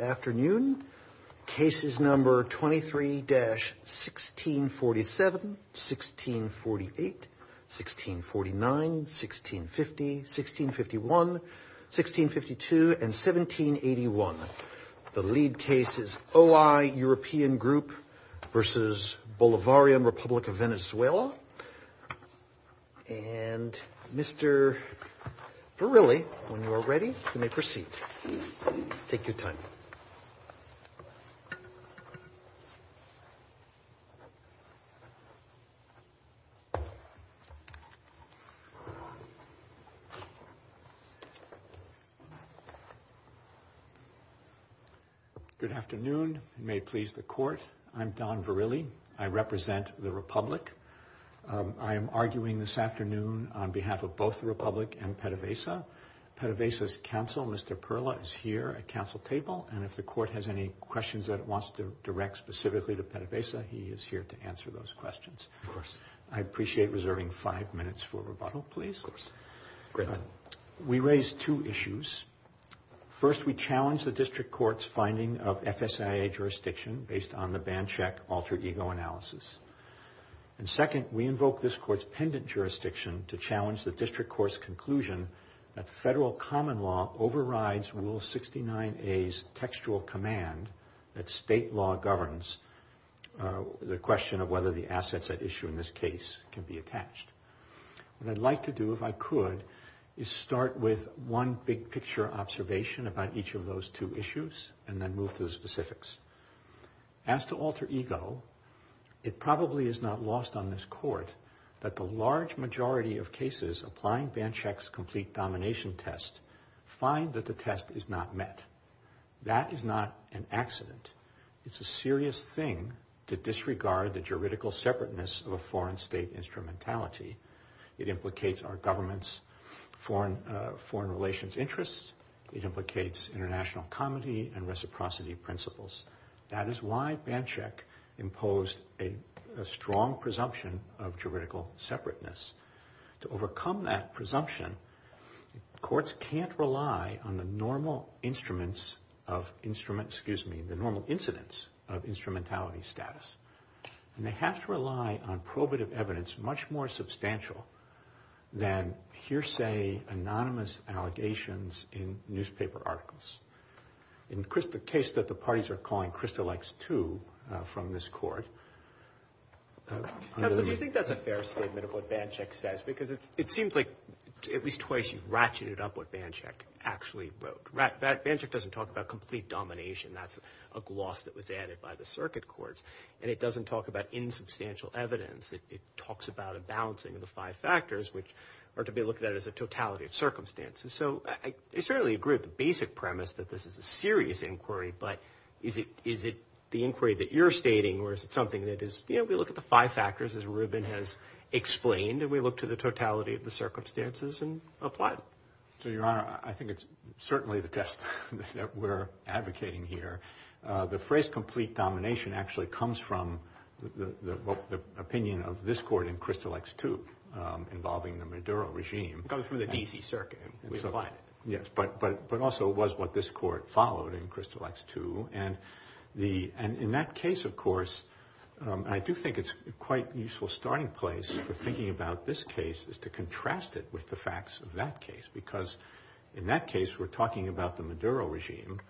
Afternoon. Cases number 23-1647, 1648, 1649, 1650, 1651, 1652, and 1781. The lead case is OI European Group v. Bolivarian Republic of Venezuela. And Mr. Verrilli, when you are ready, you may proceed. Take your time. Good afternoon. You may please the court. I'm Don Verrilli. I represent the Republic. I am arguing this afternoon on behalf of both the Republic and PDVSA. PDVSA's counsel, Mr. Perla, is here at council table, and if the court has any questions that it wants to direct specifically to PDVSA, he is here to answer those questions. Of course. I appreciate reserving five minutes for rebuttal, please. Of course. We raise two issues. First, we challenge the district court's finding of FSIA jurisdiction based on the ban check alter ego analysis. And second, we invoke this court's pendant jurisdiction to challenge the district court's conclusion that federal common law overrides Rule 69A's textual command that state law governs the question of whether the assets at issue in this case can be attached. What I'd like to do, if I could, is start with one big picture observation about each of those two issues and then move to the specifics. As to alter ego, it probably is not lost on this court that the large majority of cases applying ban checks complete domination test find that the test is not met. That is not an accident. It's a serious thing to disregard the juridical separateness of a foreign state instrumentality. It implicates our government's foreign relations interests. It implicates international comity and reciprocity principles. That is why ban check imposed a strong presumption of juridical separateness. To overcome that presumption, courts can't rely on the normal instruments of instrument, excuse me, the normal incidence of instrumentality status. And they have to rely on probative evidence much more substantial than hearsay anonymous allegations in newspaper articles. In the case that the parties are calling Crystal X-2 from this court. Do you think that's a fair statement of what ban check says? Because it seems like at least twice you've ratcheted up what ban check actually wrote. Ban check doesn't talk about complete domination. That's a gloss that was added by the circuit courts. And it doesn't talk about insubstantial evidence. It talks about a balancing of the five factors which are to be looked at as a totality of circumstances. So I certainly agree with the basic premise that this is a serious inquiry. But is it the inquiry that you're stating or is it something that is, you know, we look at the five factors as Rubin has explained. And we look to the totality of the circumstances and apply it. So, Your Honor, I think it's certainly the test that we're advocating here. The phrase complete domination actually comes from the opinion of this court in Crystal X-2 involving the Maduro regime. It comes from the DC circuit. Yes, but also it was what this court followed in Crystal X-2. And in that case, of course, I do think it's quite a useful starting place for thinking about this case is to contrast it with the facts of that case. Because in that case, we're talking about the Maduro regime.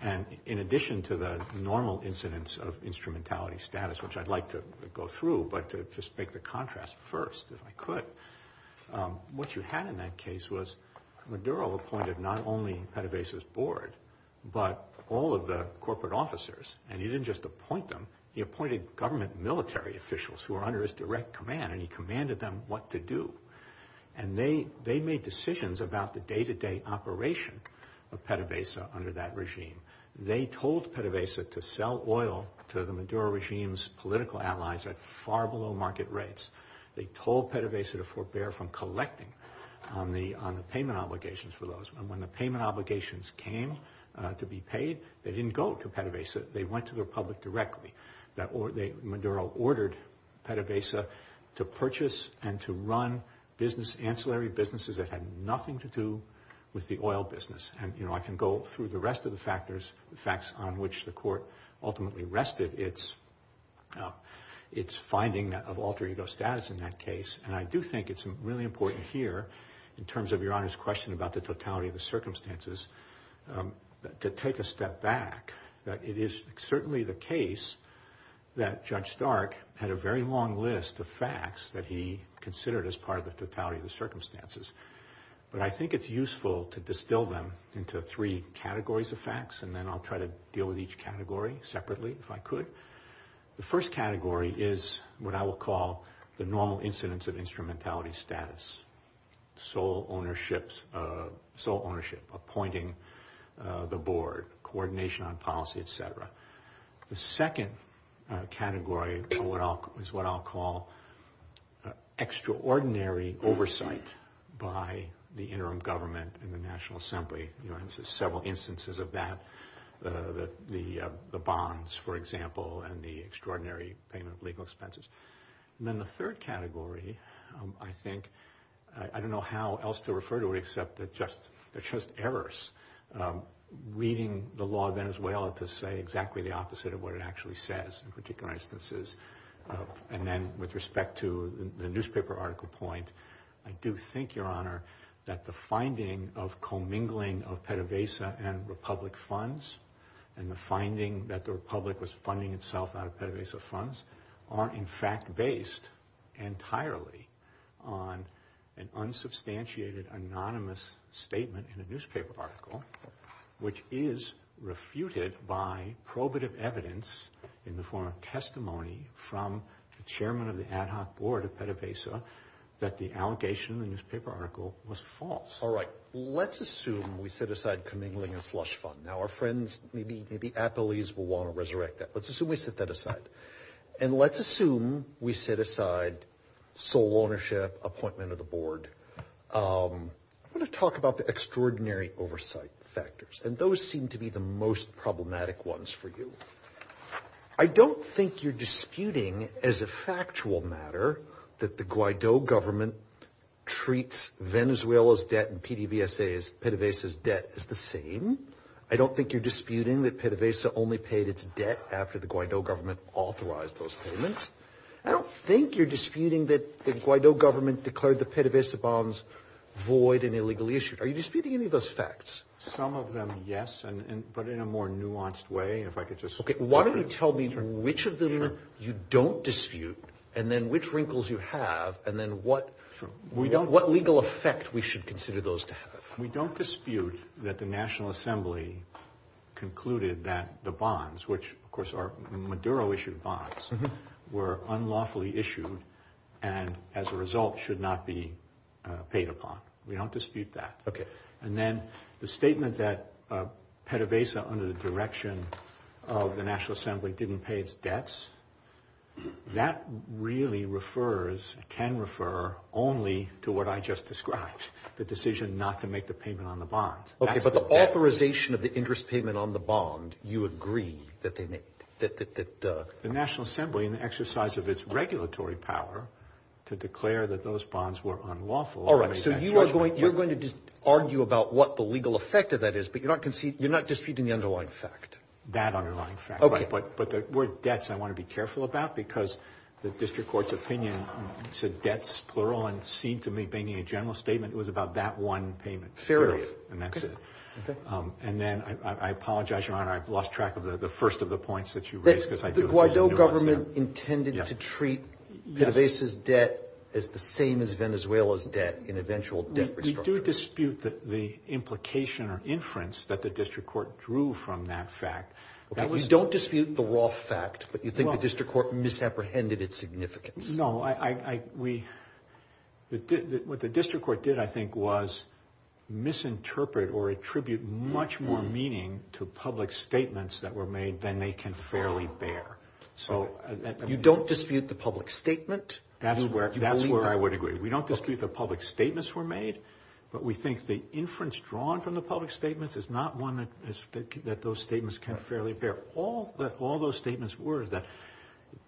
And in addition to the normal incidence of instrumentality status, which I'd like to go through, but to just make the contrast first, if I could. What you had in that case was Maduro appointed not only PDVSA's board, but all of the corporate officers. And he didn't just appoint them. He appointed government military officials who are under his direct command. And he commanded them what to do. And they made decisions about the day-to-day operation of PDVSA under that regime. They told PDVSA to sell oil to the Maduro regime's political allies at far below market rates. They told PDVSA to forbear from collecting on the payment obligations for those. And when the payment obligations came to be paid, they didn't go to PDVSA. They went to the Republic directly. Maduro ordered PDVSA to purchase and to run business, ancillary businesses that had nothing to do with the oil business. And, you know, I can go through the rest of the factors, the facts on which the court ultimately rested its finding of alter ego status in that case. And I do think it's really important here, in terms of Your Honor's question about the totality of the circumstances, to take a step back. It is certainly the case that Judge Stark had a very long list of facts that he considered as part of the totality of the circumstances. But I think it's useful to distill them into three categories of facts, and then I'll try to deal with each category separately, if I could. The first category is what I will call the normal incidence of instrumentality status. Sole ownership, appointing the board, coordination on policy, et cetera. The second category is what I'll call extraordinary oversight by the interim government and the National Assembly. You know, there's several instances of that, the bonds, for example, and the extraordinary payment of legal expenses. And then the third category, I think, I don't know how else to refer to it except that they're just errors. Reading the law of Venezuela to say exactly the opposite of what it actually says, in particular instances. And then with respect to the newspaper article point, I do think, Your Honor, that the finding of commingling of PDVSA and Republic funds, and the finding that the Republic was funding itself out of PDVSA funds, are in fact based entirely on an unsubstantiated, anonymous statement in a newspaper article, which is refuted by probative evidence in the form of testimony from the chairman of the ad hoc board of PDVSA, that the allegation in the newspaper article was false. All right. Let's assume we set aside commingling and slush fund. Now, our friends, maybe at the least, will want to resurrect that. Let's assume we set that aside. And let's assume we set aside sole ownership, appointment of the board. I want to talk about the extraordinary oversight factors, and those seem to be the most problematic ones for you. I don't think you're disputing, as a factual matter, that the Guaido government treats Venezuela's debt and PDVSA's, PDVSA's debt, as the same. I don't think you're disputing that PDVSA only paid its debt after the Guaido government authorized those payments. I don't think you're disputing that the Guaido government declared the PDVSA bonds void and illegally issued. Are you disputing any of those facts? Some of them, yes, but in a more nuanced way. Okay. Why don't you tell me which of them you don't dispute, and then which wrinkles you have, and then what legal effect we should consider those to have. We don't dispute that the National Assembly concluded that the bonds, which, of course, are Maduro-issued bonds, were unlawfully issued and, as a result, should not be paid upon. We don't dispute that. Okay. And then the statement that PDVSA, under the direction of the National Assembly, didn't pay its debts, that really refers, can refer, only to what I just described, the decision not to make the payment on the bonds. Okay, but the authorization of the interest payment on the bond, you agree that they made? The National Assembly, in the exercise of its regulatory power, to declare that those bonds were unlawful. All right, so you are going to argue about what the legal effect of that is, but you're not disputing the underlying fact? That underlying fact. Okay. But the word debts I want to be careful about, because the district court's opinion said debts, plural, and seemed to me, being a general statement, it was about that one payment. Fair enough. And that's it. Okay. And then, I apologize, Your Honor, I've lost track of the first of the points that you raised, because I do have a nuance there. The district court intended to treat PDVSA's debt as the same as Venezuela's debt in eventual debt restructuring. We do dispute the implication or inference that the district court drew from that fact. You don't dispute the raw fact, but you think the district court misapprehended its significance. No, what the district court did, I think, was misinterpret or attribute much more meaning to public statements that were made than they can fairly bear. You don't dispute the public statement? That's where I would agree. We don't dispute the public statements were made, but we think the inference drawn from the public statements is not one that those statements can fairly bear. All those statements were that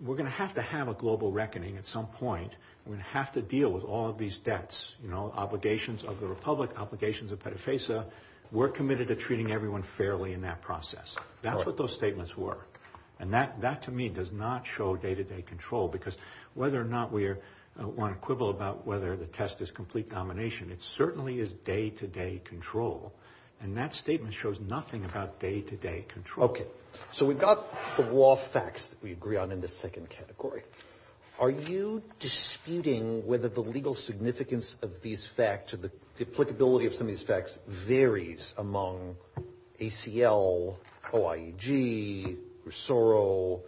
we're going to have to have a global reckoning at some point. We're going to have to deal with all of these debts, you know, obligations of the republic, obligations of PDVSA. We're committed to treating everyone fairly in that process. That's what those statements were. And that, to me, does not show day-to-day control, because whether or not we want to quibble about whether the test is complete domination, it certainly is day-to-day control. And that statement shows nothing about day-to-day control. Okay. So we've got the raw facts that we agree on in the second category. Are you disputing whether the legal significance of these facts or the applicability of some of these facts varies among ACL, OIEG, Rosoro?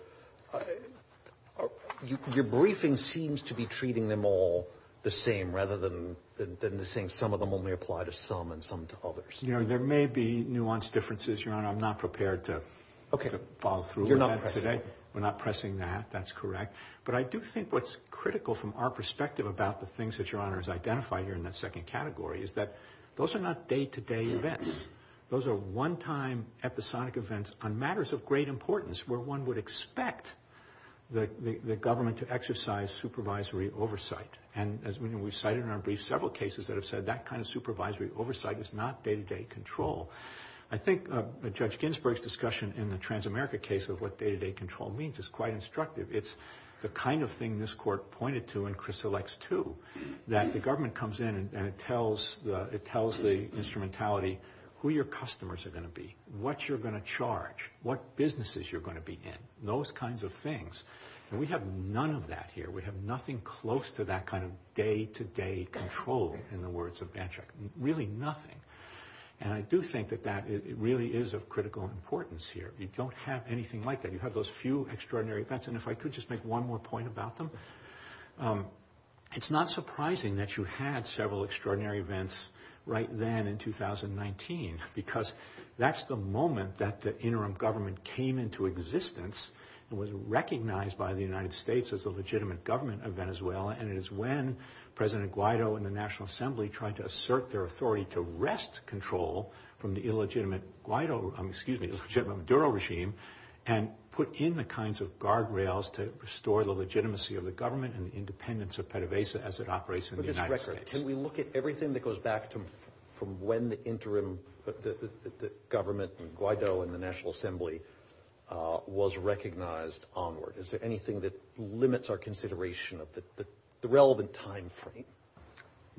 Your briefing seems to be treating them all the same rather than saying some of them only apply to some and some to others. You know, there may be nuanced differences, Your Honor. I'm not prepared to follow through with that today. We're not pressing that. That's correct. But I do think what's critical from our perspective about the things that Your Honor has identified here in that second category is that those are not day-to-day events. Those are one-time, episodic events on matters of great importance where one would expect the government to exercise supervisory oversight. And, as we know, we've cited in our brief several cases that have said that kind of supervisory oversight is not day-to-day control. I think Judge Ginsburg's discussion in the Transamerica case of what day-to-day control means is quite instructive. It's the kind of thing this Court pointed to in Crisalex II, that the government comes in and it tells the instrumentality who your customers are going to be, what you're going to charge, what businesses you're going to be in, those kinds of things. And we have none of that here. We have nothing close to that kind of day-to-day control in the words of Banchak, really nothing. And I do think that that really is of critical importance here. You don't have anything like that. You have those few extraordinary events. And if I could just make one more point about them, it's not surprising that you had several extraordinary events right then in 2019, because that's the moment that the interim government came into existence and was recognized by the United States as a legitimate government of Venezuela. And it is when President Guaido and the National Assembly tried to assert their authority to wrest control from the illegitimate Maduro regime and put in the kinds of guardrails to restore the legitimacy of the government and the independence of PDVSA as it operates in the United States. With this record, can we look at everything that goes back from when the interim government, and Guaido and the National Assembly was recognized onward? Is there anything that limits our consideration of the relevant time frame?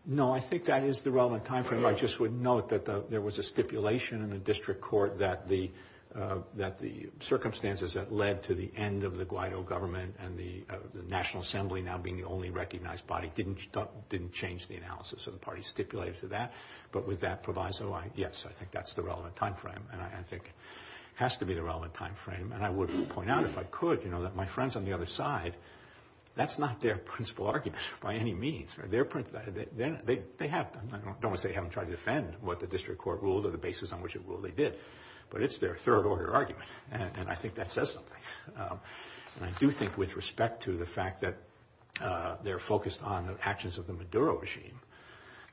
No, I think that is the relevant time frame. I just would note that there was a stipulation in the district court that the circumstances that led to the end of the Guaido government and the National Assembly now being the only recognized body didn't change the analysis of the parties stipulated to that. But with that proviso, yes, I think that's the relevant time frame. And I think it has to be the relevant time frame. And I would point out, if I could, that my friends on the other side, that's not their principal argument by any means. I don't want to say they haven't tried to defend what the district court ruled or the basis on which it ruled they did, but it's their third order argument, and I think that says something. And I do think with respect to the fact that they're focused on the actions of the Maduro regime,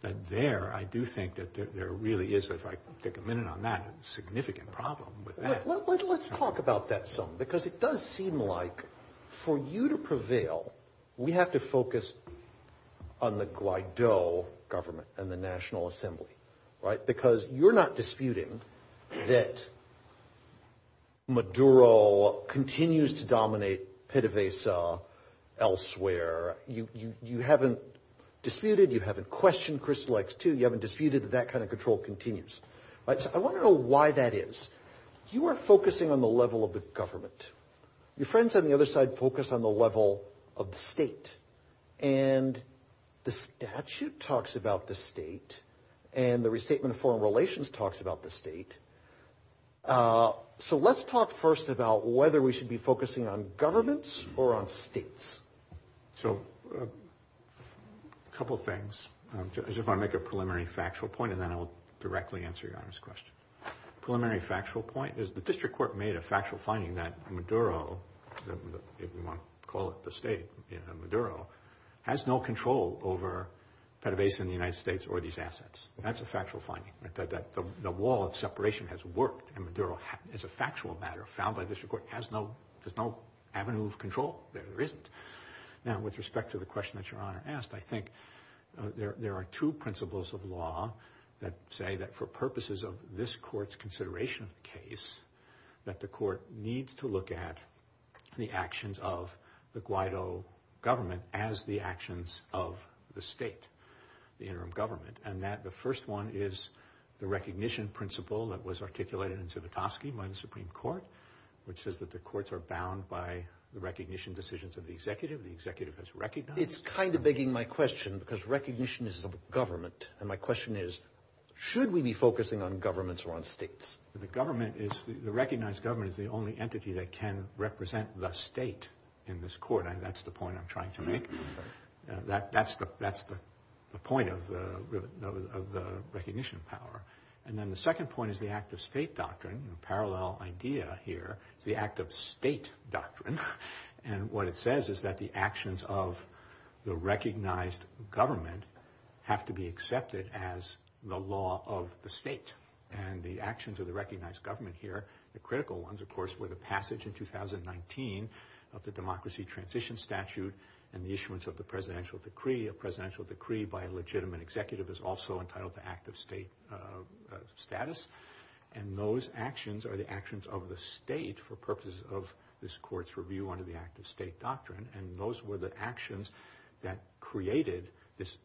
that there, I do think that there really is, if I could take a minute on that, a significant problem with that. Let's talk about that some, because it does seem like for you to prevail, we have to focus on the Guaido government and the National Assembly, right? Because you're not disputing that Maduro continues to dominate PDVSA elsewhere. You haven't disputed, you haven't questioned Crystal X2, you haven't disputed that that kind of control continues. So I want to know why that is. You are focusing on the level of the government. Your friends on the other side focus on the level of the state. And the statute talks about the state, and the restatement of foreign relations talks about the state. So let's talk first about whether we should be focusing on governments or on states. So a couple things. I just want to make a preliminary factual point, and then I'll directly answer Your Honor's question. Preliminary factual point is the district court made a factual finding that Maduro, if you want to call it the state, Maduro, has no control over PDVSA in the United States or these assets. That's a factual finding, that the wall of separation has worked. And Maduro, as a factual matter found by the district court, has no avenue of control. There isn't. Now, with respect to the question that Your Honor asked, I think there are two principles of law that say that for purposes of this court's consideration of the case, that the court needs to look at the actions of the Guaido government as the actions of the state, the interim government. And that the first one is the recognition principle that was articulated in Zivotofsky by the Supreme Court, which says that the courts are bound by the recognition decisions of the executive. The executive has recognized. It's kind of begging my question, because recognition is a government. And my question is, should we be focusing on governments or on states? The government is – the recognized government is the only entity that can represent the state in this court. That's the point I'm trying to make. That's the point of the recognition power. And then the second point is the act-of-state doctrine, a parallel idea here. It's the act-of-state doctrine. And what it says is that the actions of the recognized government have to be accepted as the law of the state. And the actions of the recognized government here, the critical ones, of course, were the passage in 2019 of the Democracy Transition Statute and the issuance of the presidential decree. A presidential decree by a legitimate executive is also entitled the act-of-state status. And those actions are the actions of the state for purposes of this court's review under the act-of-state doctrine. And those were the actions that created this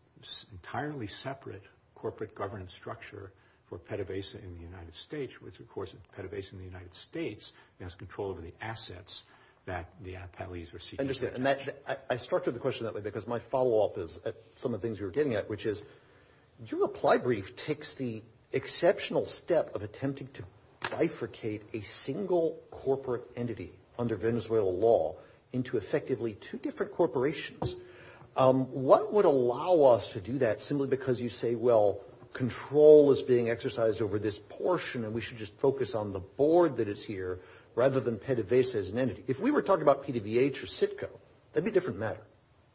entirely separate corporate governance structure for PDVSA in the United States, which, of course, PDVSA in the United States has control over the assets that the appellees receive. I understand. And I structured the question that way because my follow-up is some of the things we were getting at, which is your reply brief takes the exceptional step of attempting to bifurcate a single corporate entity under Venezuelan law into effectively two different corporations. What would allow us to do that simply because you say, well, control is being exercised over this portion and we should just focus on the board that is here rather than PDVSA as an entity? If we were talking about PDVH or CITCO, that would be a different matter.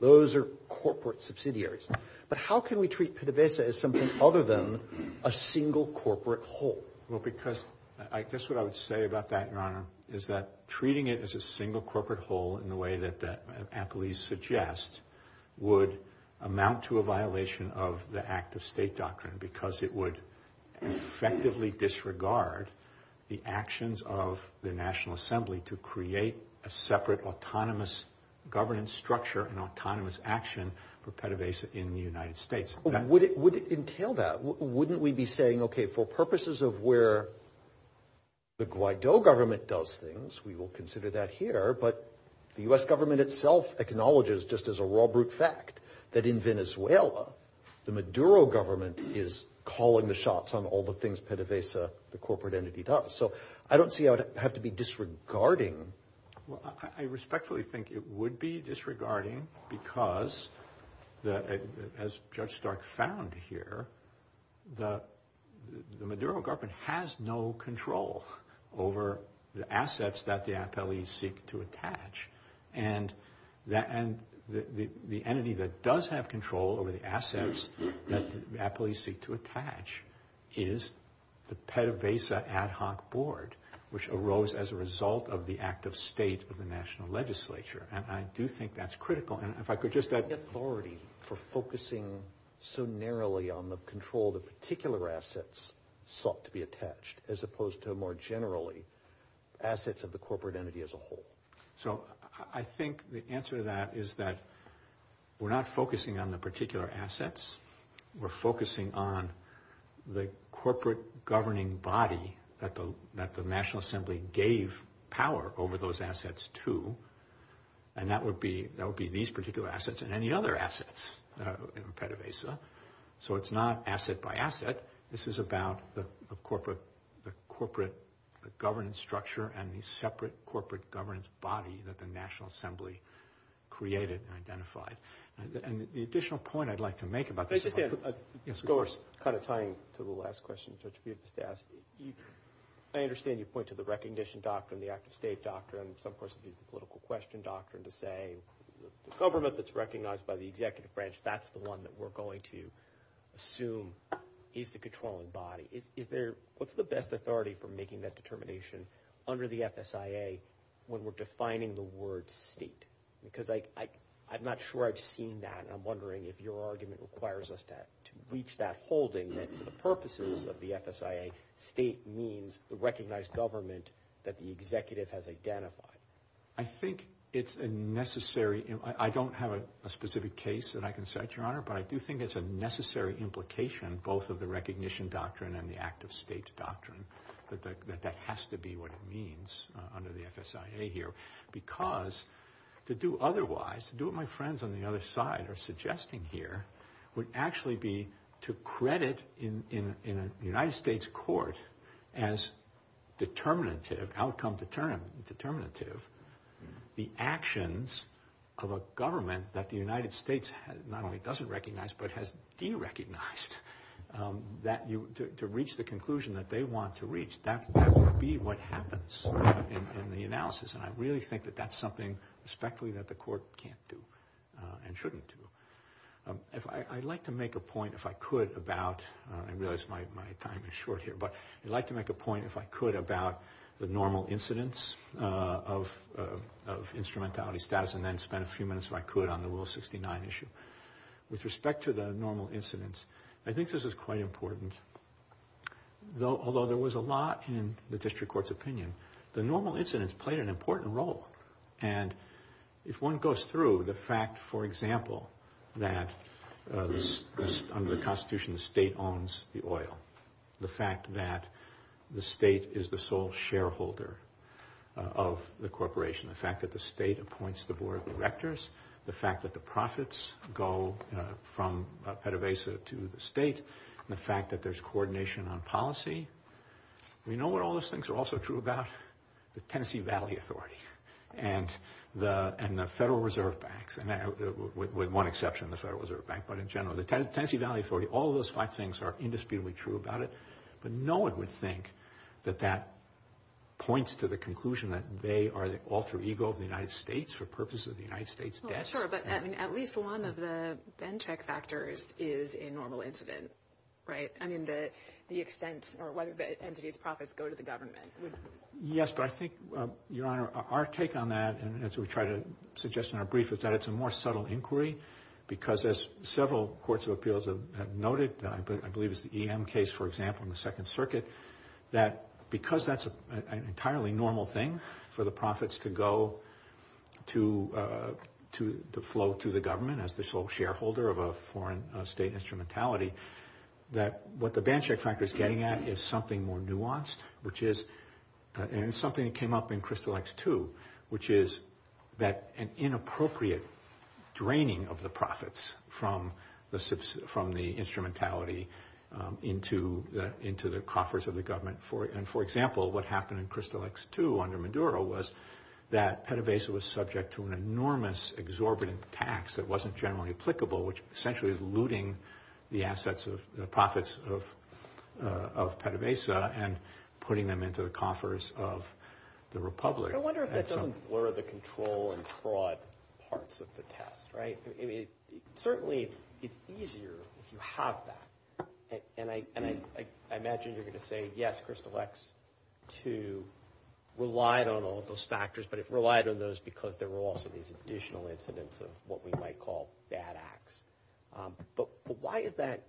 Those are corporate subsidiaries. But how can we treat PDVSA as something other than a single corporate whole? Well, because I guess what I would say about that, Your Honor, is that treating it as a single corporate whole in the way that the appellees suggest would amount to a violation of the act-of-state doctrine because it would effectively disregard the actions of the National Assembly to create a separate autonomous governance structure and autonomous action for PDVSA in the United States. Would it entail that? Wouldn't we be saying, okay, for purposes of where the Guaido government does things, we will consider that here, but the U.S. government itself acknowledges just as a raw brute fact that in Venezuela, the Maduro government is calling the shots on all the things PDVSA, the corporate entity, does. So I don't see how it would have to be disregarding. Well, I respectfully think it would be disregarding because, as Judge Stark found here, the Maduro government has no control over the assets that the appellees seek to attach. And the entity that does have control over the assets that the appellees seek to attach is the PDVSA ad hoc board, which arose as a result of the act-of-state of the national legislature. And I do think that's critical. The authority for focusing so narrowly on the control of the particular assets sought to be attached, as opposed to more generally assets of the corporate entity as a whole. So I think the answer to that is that we're not focusing on the particular assets. We're focusing on the corporate governing body that the National Assembly gave power over those assets to, and that would be these particular assets and any other assets in PDVSA. So it's not asset by asset. This is about the corporate governance structure and the separate corporate governance body that the National Assembly created and identified. And the additional point I'd like to make about this is – I just had a – Yes, of course. Kind of tying to the last question, Judge, you just asked. I understand you point to the recognition doctrine, the act-of-state doctrine, and some person used the political question doctrine to say the government that's recognized by the executive branch, that's the one that we're going to assume is the controlling body. Is there – what's the best authority for making that determination under the FSIA when we're defining the word state? Because I'm not sure I've seen that, and I'm wondering if your argument requires us to reach that holding that for the purposes of the FSIA, state means the recognized government that the executive has identified. I think it's a necessary – I don't have a specific case that I can set, Your Honor, but I do think it's a necessary implication, both of the recognition doctrine and the act-of-state doctrine, that that has to be what it means under the FSIA here because to do otherwise, to do what my friends on the other side are suggesting here would actually be to credit in a United States court as determinative, outcome determinative, the actions of a government that the United States not only doesn't recognize but has derecognized to reach the conclusion that they want to reach, that would be what happens in the analysis. And I really think that that's something, respectfully, that the court can't do and shouldn't do. I'd like to make a point, if I could, about – I realize my time is short here, but I'd like to make a point, if I could, about the normal incidence of instrumentality status and then spend a few minutes, if I could, on the Will 69 issue. With respect to the normal incidence, I think this is quite important. Although there was a lot in the district court's opinion, the normal incidence played an important role. And if one goes through the fact, for example, that under the Constitution the state owns the oil, the fact that the state is the sole shareholder of the corporation, the fact that the state appoints the board of directors, the fact that the profits go from PDVSA to the state, the fact that there's coordination on policy. You know what all those things are also true about? The Tennessee Valley Authority and the Federal Reserve Banks, with one exception, the Federal Reserve Bank. But in general, the Tennessee Valley Authority, all of those five things are indisputably true about it. But no one would think that that points to the conclusion that they are the alter ego of the United States for purposes of the United States debt. Sure, but at least one of the Benchik factors is a normal incident, right? I mean, the extent or whether the entity's profits go to the government. Yes, but I think, Your Honor, our take on that, and that's what we try to suggest in our brief, is that it's a more subtle inquiry because as several courts of appeals have noted, I believe it's the EM case, for example, in the Second Circuit, that because that's an entirely normal thing for the profits to go to the flow to the government as the sole shareholder of a foreign state instrumentality, that what the Benchik factor is getting at is something more nuanced, which is something that came up in Crystal X2, which is that an inappropriate draining of the profits from the instrumentality into the coffers of the government. And for example, what happened in Crystal X2 under Maduro was that PDVSA was subject to an enormous exorbitant tax that wasn't generally applicable, which essentially is looting the assets of the profits of PDVSA and putting them into the coffers of the Republic. I wonder if that doesn't blur the control and fraud parts of the test, right? Certainly, it's easier if you have that. And I imagine you're going to say, yes, Crystal X2 relied on all of those factors, but it relied on those because there were also these additional incidents of what we might call bad acts. But why is that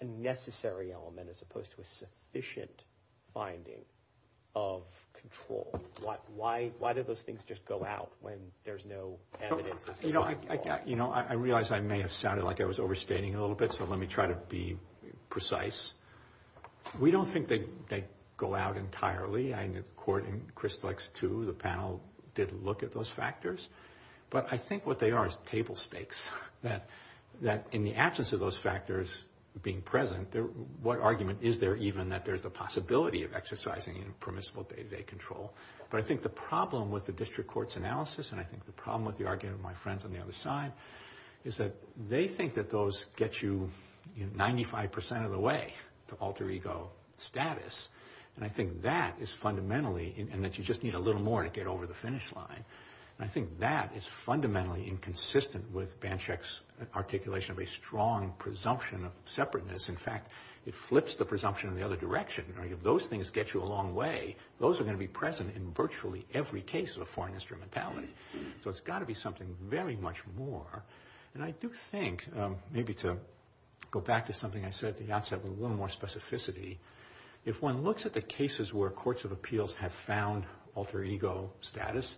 a necessary element as opposed to a sufficient finding of control? Why do those things just go out when there's no evidence? I realize I may have sounded like I was overstating a little bit, so let me try to be precise. We don't think they go out entirely. In the court in Crystal X2, the panel did look at those factors. But I think what they are is table stakes, that in the absence of those factors being present, what argument is there even that there's the possibility of exercising permissible day-to-day control? But I think the problem with the district court's analysis and I think the problem with the argument of my friends on the other side is that they think that those get you 95 percent of the way to alter ego status. And I think that is fundamentally, and that you just need a little more to get over the finish line. I think that is fundamentally inconsistent with Banchek's articulation of a strong presumption of separateness. In fact, it flips the presumption in the other direction. Those things get you a long way. Those are going to be present in virtually every case of a foreign instrumentality. So it's got to be something very much more. And I do think, maybe to go back to something I said at the outset with a little more specificity, if one looks at the cases where courts of appeals have found alter ego status,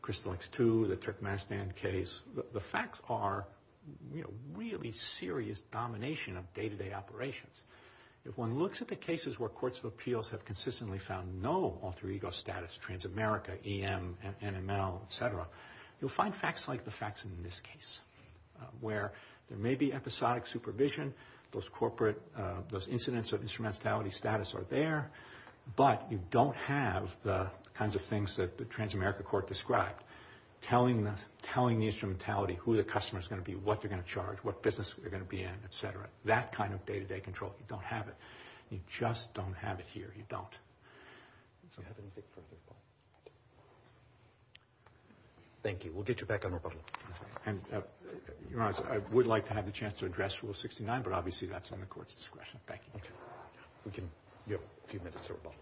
Crystal X2, the Turkmenistan case, the facts are really serious domination of day-to-day operations. If one looks at the cases where courts of appeals have consistently found no alter ego status, Transamerica, EM, NML, et cetera, you'll find facts like the facts in this case, where there may be episodic supervision, those incidents of instrumentality status are there, but you don't have the kinds of things that the Transamerica court described, telling the instrumentality who the customer is going to be, what they're going to charge, what business they're going to be in, et cetera. That kind of day-to-day control, you don't have it. You just don't have it here. You don't. Thank you. We'll get you back on the rebuttal. Your Honor, I would like to have the chance to address Rule 69, but obviously that's in the court's discretion. Thank you. We can get a few minutes of rebuttal.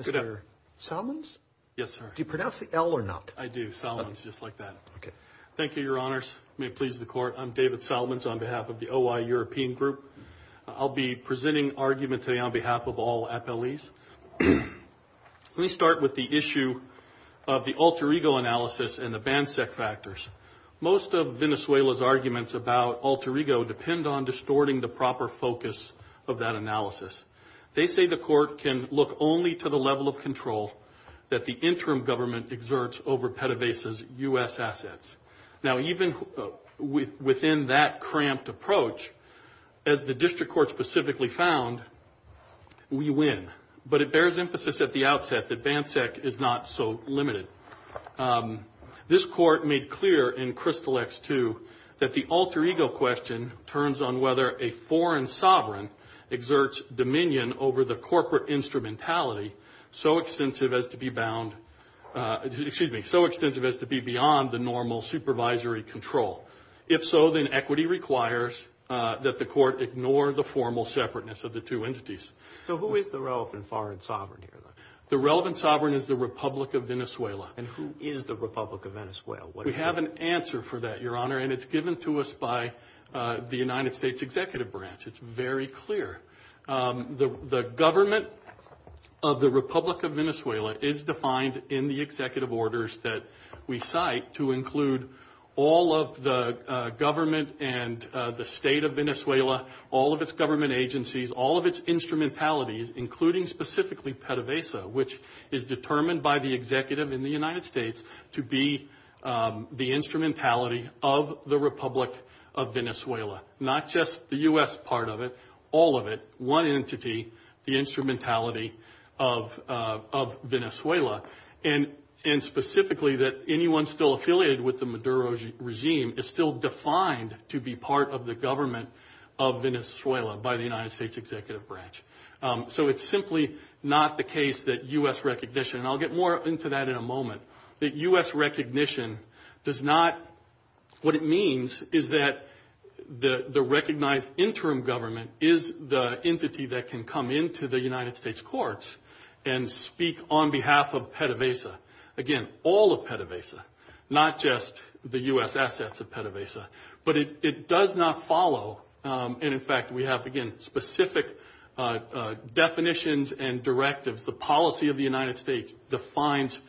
Mr. Solomons? Yes, sir. Do you pronounce the L or not? I do, Solomons, just like that. May it please the Court. I'm David Solomons on behalf of the OI European Group. I'll be presenting argument today on behalf of all appellees. Let me start with the issue of the Alter Ego analysis and the BANSEC factors. Most of Venezuela's arguments about Alter Ego depend on distorting the proper focus of that analysis. They say the Court can look only to the level of control that the interim government exerts over PDVSA's U.S. assets. Now, even within that cramped approach, as the District Court specifically found, we win. But it bears emphasis at the outset that BANSEC is not so limited. This Court made clear in Crystal X-2 that the Alter Ego question turns on whether a foreign sovereign exerts dominion over the corporate instrumentality so extensive as to be beyond the normal supervisory control. If so, then equity requires that the Court ignore the formal separateness of the two entities. So who is the relevant foreign sovereign here, then? The relevant sovereign is the Republic of Venezuela. And who is the Republic of Venezuela? We have an answer for that, Your Honor, and it's given to us by the United States Executive Branch. It's very clear. The government of the Republic of Venezuela is defined in the executive orders that we cite to include all of the government and the state of Venezuela, all of its government agencies, all of its instrumentalities, including specifically PDVSA, which is determined by the executive in the United States to be the instrumentality of the Republic of Venezuela, not just the U.S. part of it, all of it, one entity, the instrumentality of Venezuela, and specifically that anyone still affiliated with the Maduro regime is still defined to be part of the government of Venezuela by the United States Executive Branch. So it's simply not the case that U.S. recognition, and I'll get more into that in a moment, that U.S. recognition does not, what it means is that the recognized interim government is the entity that can come into the United States courts and speak on behalf of PDVSA, again, all of PDVSA, not just the U.S. assets of PDVSA. But it does not follow, and, in fact, we have, again, specific definitions and directives. The policy of the United States defines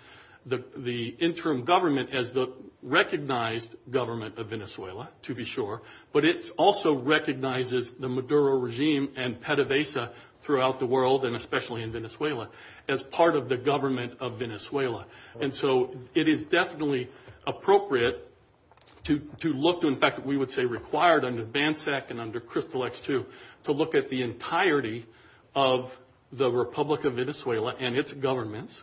the interim government as the recognized government of Venezuela, to be sure, but it also recognizes the Maduro regime and PDVSA throughout the world, and especially in Venezuela, as part of the government of Venezuela. And so it is definitely appropriate to look to, in fact, we would say required under BANSEC and under CRYSTAL-X2 to look at the entirety of the Republic of Venezuela and its governments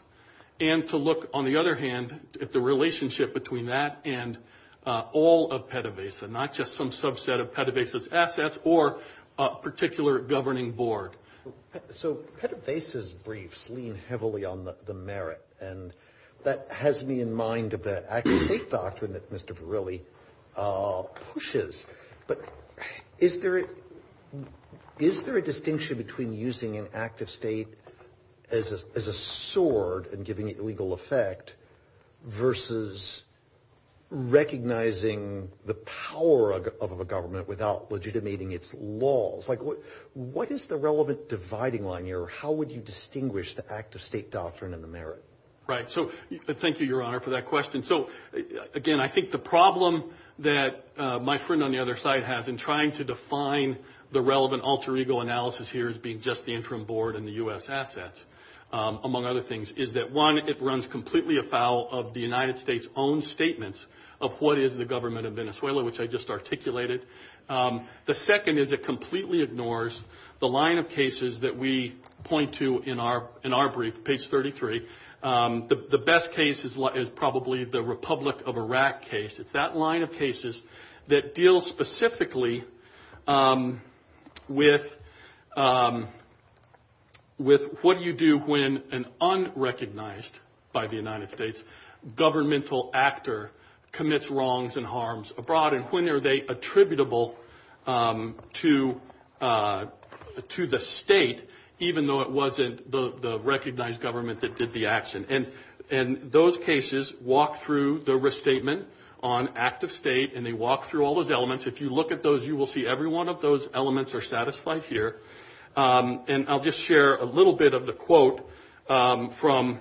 and to look, on the other hand, at the relationship between that and all of PDVSA, not just some subset of PDVSA's assets or a particular governing board. So PDVSA's briefs lean heavily on the merit, and that has me in mind of the active state doctrine that Mr. Verrilli pushes. But is there a distinction between using an active state as a sword and giving it legal effect versus recognizing the power of a government without legitimating its laws? Like, what is the relevant dividing line here? How would you distinguish the active state doctrine and the merit? Right, so thank you, Your Honor, for that question. So, again, I think the problem that my friend on the other side has in trying to define the relevant alter ego analysis here as being just the interim board and the U.S. assets, among other things, is that, one, it runs completely afoul of the United States' own statements of what is the government of Venezuela, which I just articulated. The second is it completely ignores the line of cases that we point to in our brief, page 33. The best case is probably the Republic of Iraq case. It's that line of cases that deals specifically with what do you do when an unrecognized by the United States governmental actor commits wrongs and harms abroad, and when are they attributable to the state, even though it wasn't the recognized government that did the action. And those cases walk through the restatement on active state, and they walk through all those elements. If you look at those, you will see every one of those elements are satisfied here. And I'll just share a little bit of the quote from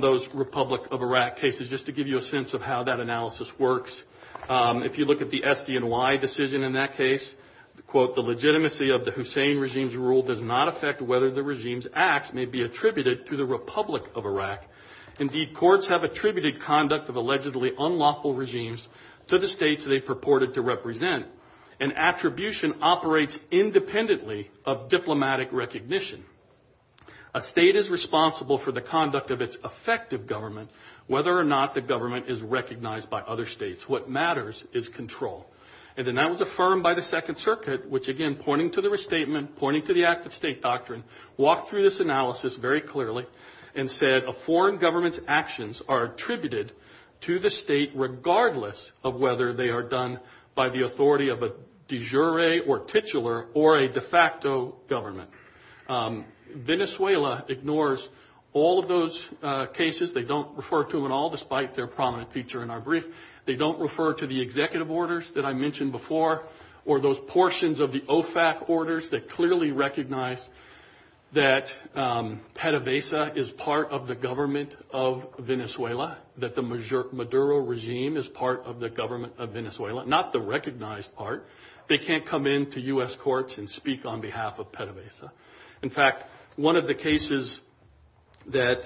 those Republic of Iraq cases, just to give you a sense of how that analysis works. If you look at the SDNY decision in that case, the quote, the legitimacy of the Hussein regime's rule does not affect whether the regime's acts may be attributed to the Republic of Iraq. Indeed, courts have attributed conduct of allegedly unlawful regimes to the states they purported to represent. An attribution operates independently of diplomatic recognition. A state is responsible for the conduct of its effective government, whether or not the government is recognized by other states. What matters is control. And then that was affirmed by the Second Circuit, which, again, pointing to the restatement, pointing to the active state doctrine, walked through this analysis very clearly and said a foreign government's actions are attributed to the state, regardless of whether they are done by the authority of a de jure or titular or a de facto government. Venezuela ignores all of those cases. They don't refer to them at all, despite their prominent feature in our brief. They don't refer to the executive orders that I mentioned before or those portions of the OFAC orders that clearly recognize that PDVSA is part of the government of Venezuela, that the Maduro regime is part of the government of Venezuela, not the recognized part. They can't come into U.S. courts and speak on behalf of PDVSA. In fact, one of the cases that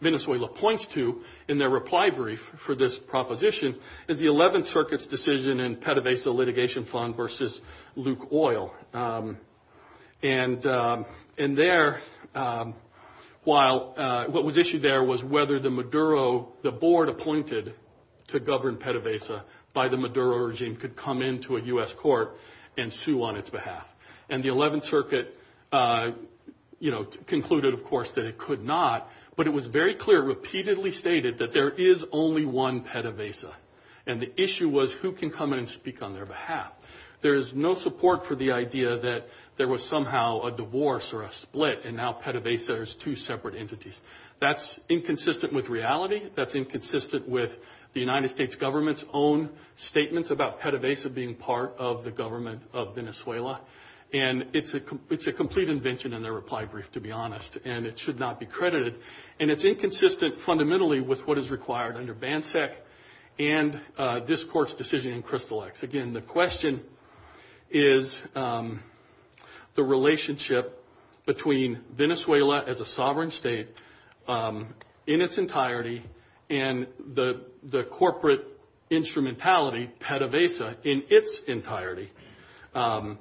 Venezuela points to in their reply brief for this proposition is the Eleventh Circuit's decision in PDVSA litigation fund versus Luke Oil. And there, while what was issued there was whether the Maduro, so the board appointed to govern PDVSA by the Maduro regime could come into a U.S. court and sue on its behalf. And the Eleventh Circuit concluded, of course, that it could not, but it was very clear, it repeatedly stated that there is only one PDVSA, and the issue was who can come in and speak on their behalf. There is no support for the idea that there was somehow a divorce or a split, and now PDVSA is two separate entities. That's inconsistent with reality. That's inconsistent with the United States government's own statements about PDVSA being part of the government of Venezuela. And it's a complete invention in their reply brief, to be honest, and it should not be credited. And it's inconsistent fundamentally with what is required under BANSEC and this court's decision in Crystal X. Again, the question is the relationship between Venezuela as a sovereign state in its entirety and the corporate instrumentality, PDVSA, in its entirety,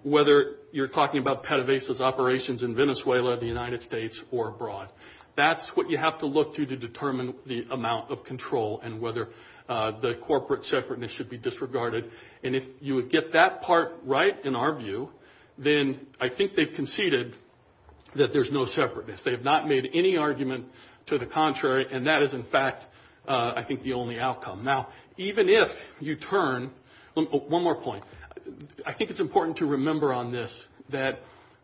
whether you're talking about PDVSA's operations in Venezuela, the United States, or abroad. That's what you have to look to to determine the amount of control and whether the corporate separateness should be disregarded. And if you would get that part right, in our view, then I think they've conceded that there's no separateness. They have not made any argument to the contrary, and that is, in fact, I think the only outcome. Now, even if you turn one more point, I think it's important to remember on this that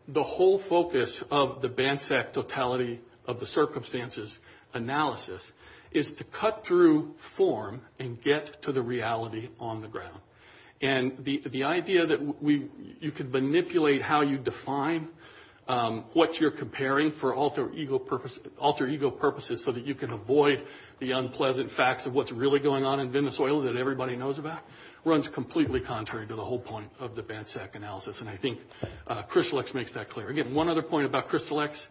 the whole focus of the BANSEC totality of the circumstances analysis is to cut through form and get to the reality on the ground. And the idea that you can manipulate how you define what you're comparing for alter ego purposes so that you can avoid the unpleasant facts of what's really going on in Venezuela that everybody knows about runs completely contrary to the whole point of the BANSEC analysis. And I think Crystal X makes that clear. Again, one other point about Crystal X.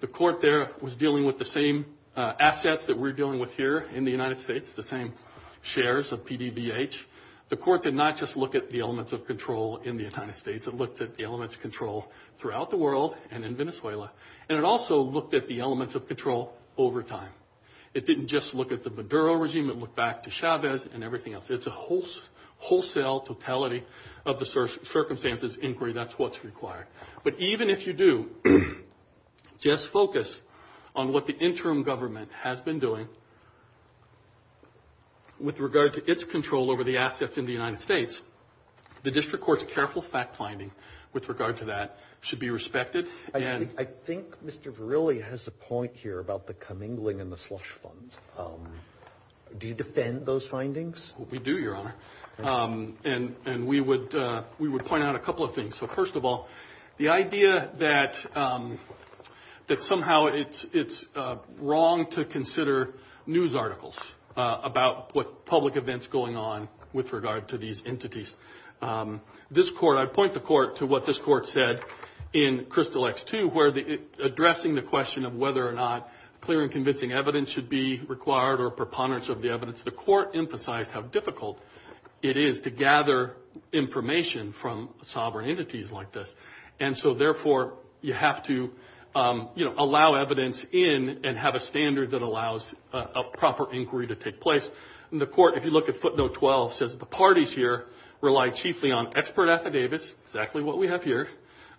The court there was dealing with the same assets that we're dealing with here in the United States, the same shares of PDVH. The court did not just look at the elements of control in the United States. It looked at the elements of control throughout the world and in Venezuela. And it also looked at the elements of control over time. It didn't just look at the Maduro regime. It looked back to Chavez and everything else. It's a wholesale totality of the circumstances inquiry. That's what's required. But even if you do just focus on what the interim government has been doing with regard to its control over the assets in the United States, the district court's careful fact finding with regard to that should be respected. I think Mr. Verrilli has a point here about the commingling and the slush funds. Do you defend those findings? We do, Your Honor. And we would point out a couple of things. So first of all, the idea that somehow it's wrong to consider news articles about what public events going on with regard to these entities. This court, I point the court to what this court said in Crystal X, too, where addressing the question of whether or not clear and convincing evidence should be required or preponderance of the evidence, the court emphasized how difficult it is to gather information from sovereign entities like this. And so, therefore, you have to, you know, allow evidence in and have a standard that allows a proper inquiry to take place. And the court, if you look at footnote 12, says the parties here rely chiefly on expert affidavits, exactly what we have here,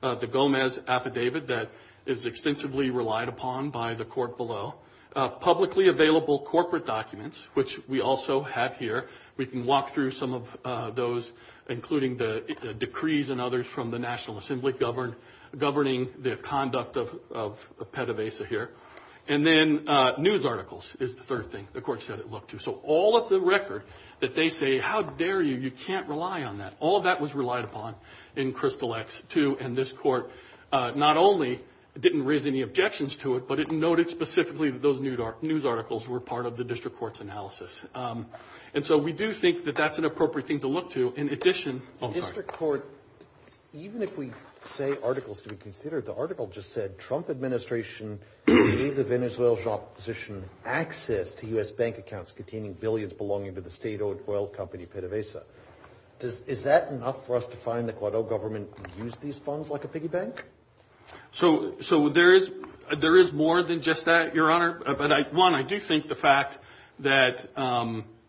the Gomez affidavit that is extensively relied upon by the court below, publicly available corporate documents, which we also have here. We can walk through some of those, including the decrees and others from the National Assembly governing the conduct of PETAVASA here. And then news articles is the third thing the court said it looked to. So all of the record that they say, how dare you, you can't rely on that, all of that was relied upon in Crystal X, too. And this court not only didn't raise any objections to it, but it noted specifically that those news articles were part of the district court's analysis. And so we do think that that's an appropriate thing to look to. In addition, the district court, even if we say articles to be considered, the article just said Trump administration gave the Venezuelan opposition access to U.S. bank accounts containing billions belonging to the state-owned oil company PETAVASA. Is that enough for us to find the Guado government used these funds like a piggy bank? So there is more than just that, Your Honor. But, one, I do think the fact that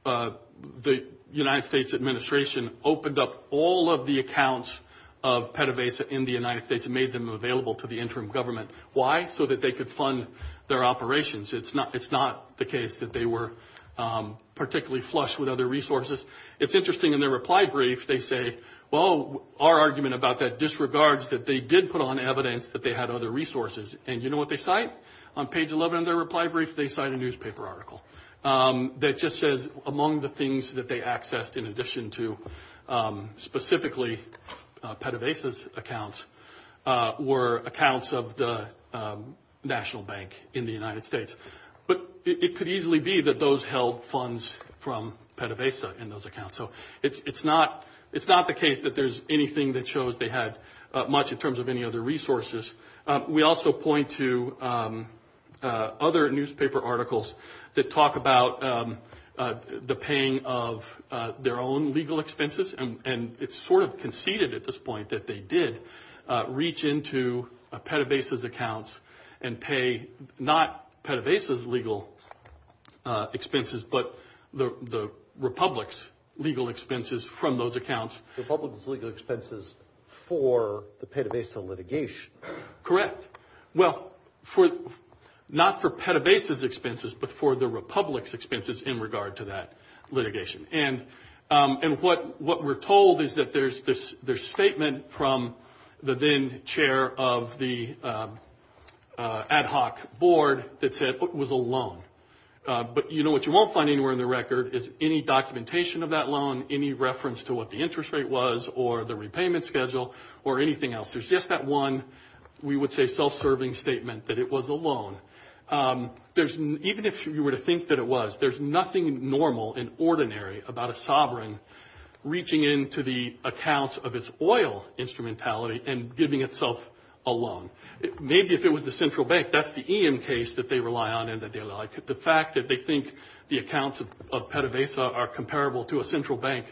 the United States administration opened up all of the accounts of PETAVASA in the United States and made them available to the interim government. Why? So that they could fund their operations. It's not the case that they were particularly flush with other resources. It's interesting. In their reply brief, they say, well, our argument about that disregards that they did put on evidence that they had other resources. And you know what they cite? On page 11 of their reply brief, they cite a newspaper article that just says, among the things that they accessed in addition to specifically PETAVASA's accounts were accounts of the National Bank in the United States. But it could easily be that those held funds from PETAVASA in those accounts. So it's not the case that there's anything that shows they had much in terms of any other resources. We also point to other newspaper articles that talk about the paying of their own legal expenses. And it's sort of conceded at this point that they did reach into PETAVASA's accounts and pay not PETAVASA's legal expenses, but the republic's legal expenses from those accounts. The republic's legal expenses for the PETAVASA litigation. Correct. Well, not for PETAVASA's expenses, but for the republic's expenses in regard to that litigation. And what we're told is that there's a statement from the then chair of the ad hoc board that said it was a loan. But you know what you won't find anywhere in the record is any documentation of that loan, any reference to what the interest rate was or the repayment schedule or anything else. There's just that one, we would say, self-serving statement that it was a loan. Even if you were to think that it was, there's nothing normal and ordinary about a sovereign reaching into the accounts of its oil instrumentality and giving itself a loan. Maybe if it was the central bank, that's the EM case that they rely on and that they like. The fact that they think the accounts of PETAVASA are comparable to a central bank,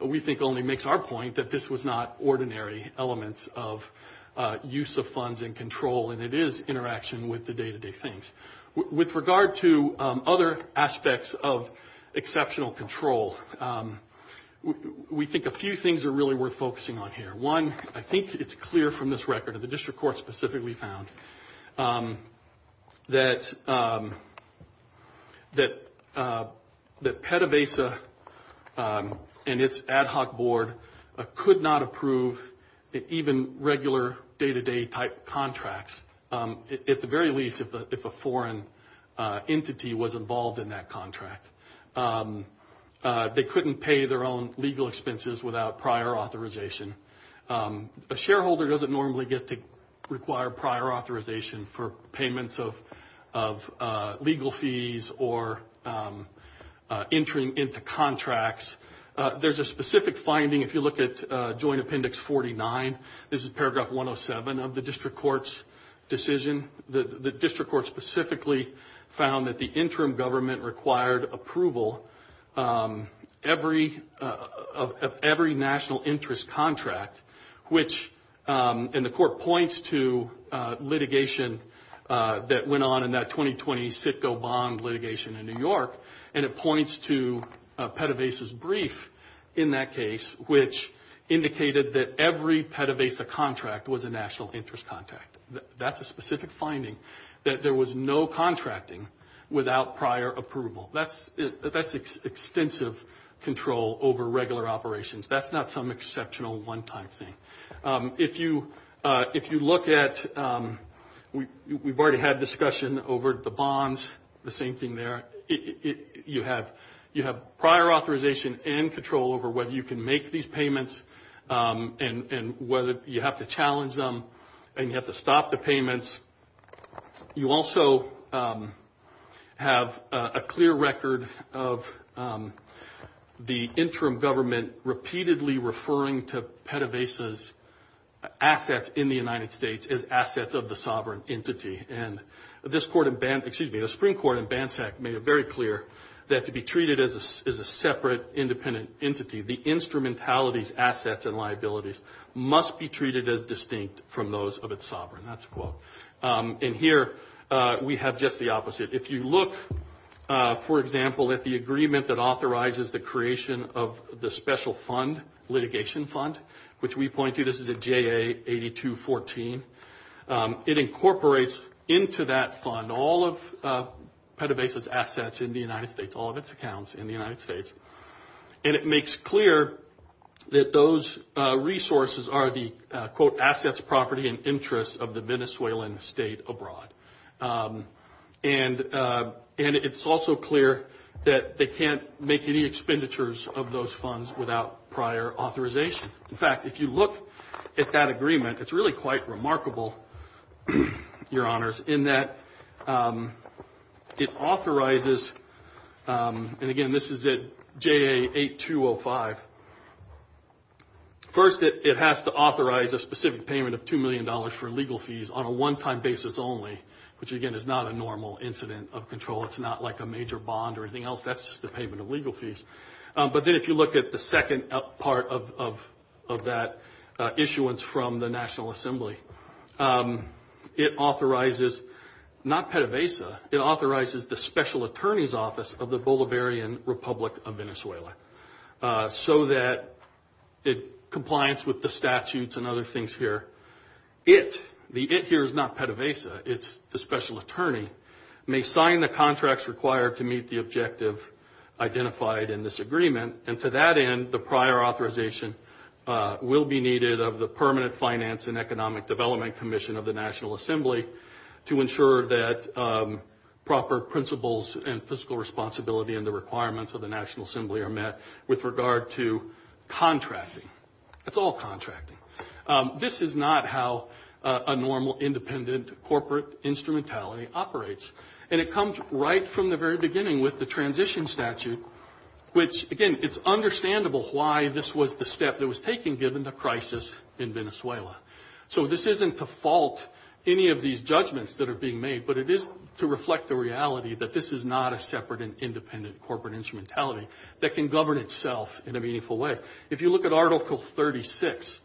we think only makes our point that this was not ordinary elements of use of funds and control, and it is interaction with the day-to-day things. With regard to other aspects of exceptional control, we think a few things are really worth focusing on here. One, I think it's clear from this record, and the district court specifically found, that PETAVASA and its ad hoc board could not approve even regular day-to-day type contracts, at the very least if a foreign entity was involved in that contract. They couldn't pay their own legal expenses without prior authorization. A shareholder doesn't normally get to require prior authorization for payments of legal fees or entering into contracts. There's a specific finding if you look at Joint Appendix 49. This is paragraph 107 of the district court's decision. The district court specifically found that the interim government required approval of every national interest contract, and the court points to litigation that went on in that 2020 Citgo bond litigation in New York, and it points to PETAVASA's brief in that case, which indicated that every PETAVASA contract was a national interest contract. That's a specific finding, that there was no contracting without prior approval. That's extensive control over regular operations. That's not some exceptional one-time thing. If you look at, we've already had discussion over the bonds, the same thing there. You have prior authorization and control over whether you can make these payments and whether you have to challenge them and you have to stop the payments. You also have a clear record of the interim government repeatedly referring to PETAVASA's assets in the United States as assets of the sovereign entity. The Supreme Court in BANSAC made it very clear that to be treated as a separate independent entity, the instrumentality's assets and liabilities must be treated as distinct from those of its sovereign. That's a quote. And here we have just the opposite. If you look, for example, at the agreement that authorizes the creation of the special fund litigation fund, which we point to, this is a JA8214, it incorporates into that fund all of PETAVASA's assets in the United States, all of its accounts in the United States. And it makes clear that those resources are the, quote, assets, property, and interests of the Venezuelan state abroad. And it's also clear that they can't make any expenditures of those funds without prior authorization. In fact, if you look at that agreement, it's really quite remarkable, Your Honors, in that it authorizes, and again, this is at JA8205. First, it has to authorize a specific payment of $2 million for legal fees on a one-time basis only, which, again, is not a normal incident of control. It's not like a major bond or anything else. That's just a payment of legal fees. But then if you look at the second part of that issuance from the National Assembly, it authorizes not PETAVASA. It authorizes the special attorney's office of the Bolivarian Republic of Venezuela so that it complies with the statutes and other things here. It, the it here is not PETAVASA, it's the special attorney, may sign the contracts required to meet the objective identified in this agreement. And to that end, the prior authorization will be needed of the Permanent Finance and Economic Development Commission of the National Assembly to ensure that proper principles and fiscal responsibility and the requirements of the National Assembly are met with regard to contracting. It's all contracting. This is not how a normal independent corporate instrumentality operates. And it comes right from the very beginning with the transition statute, which, again, it's understandable why this was the step that was taken given the crisis in Venezuela. So this isn't to fault any of these judgments that are being made, but it is to reflect the reality that this is not a separate and independent corporate instrumentality that can govern itself in a meaningful way. If you look at Article 36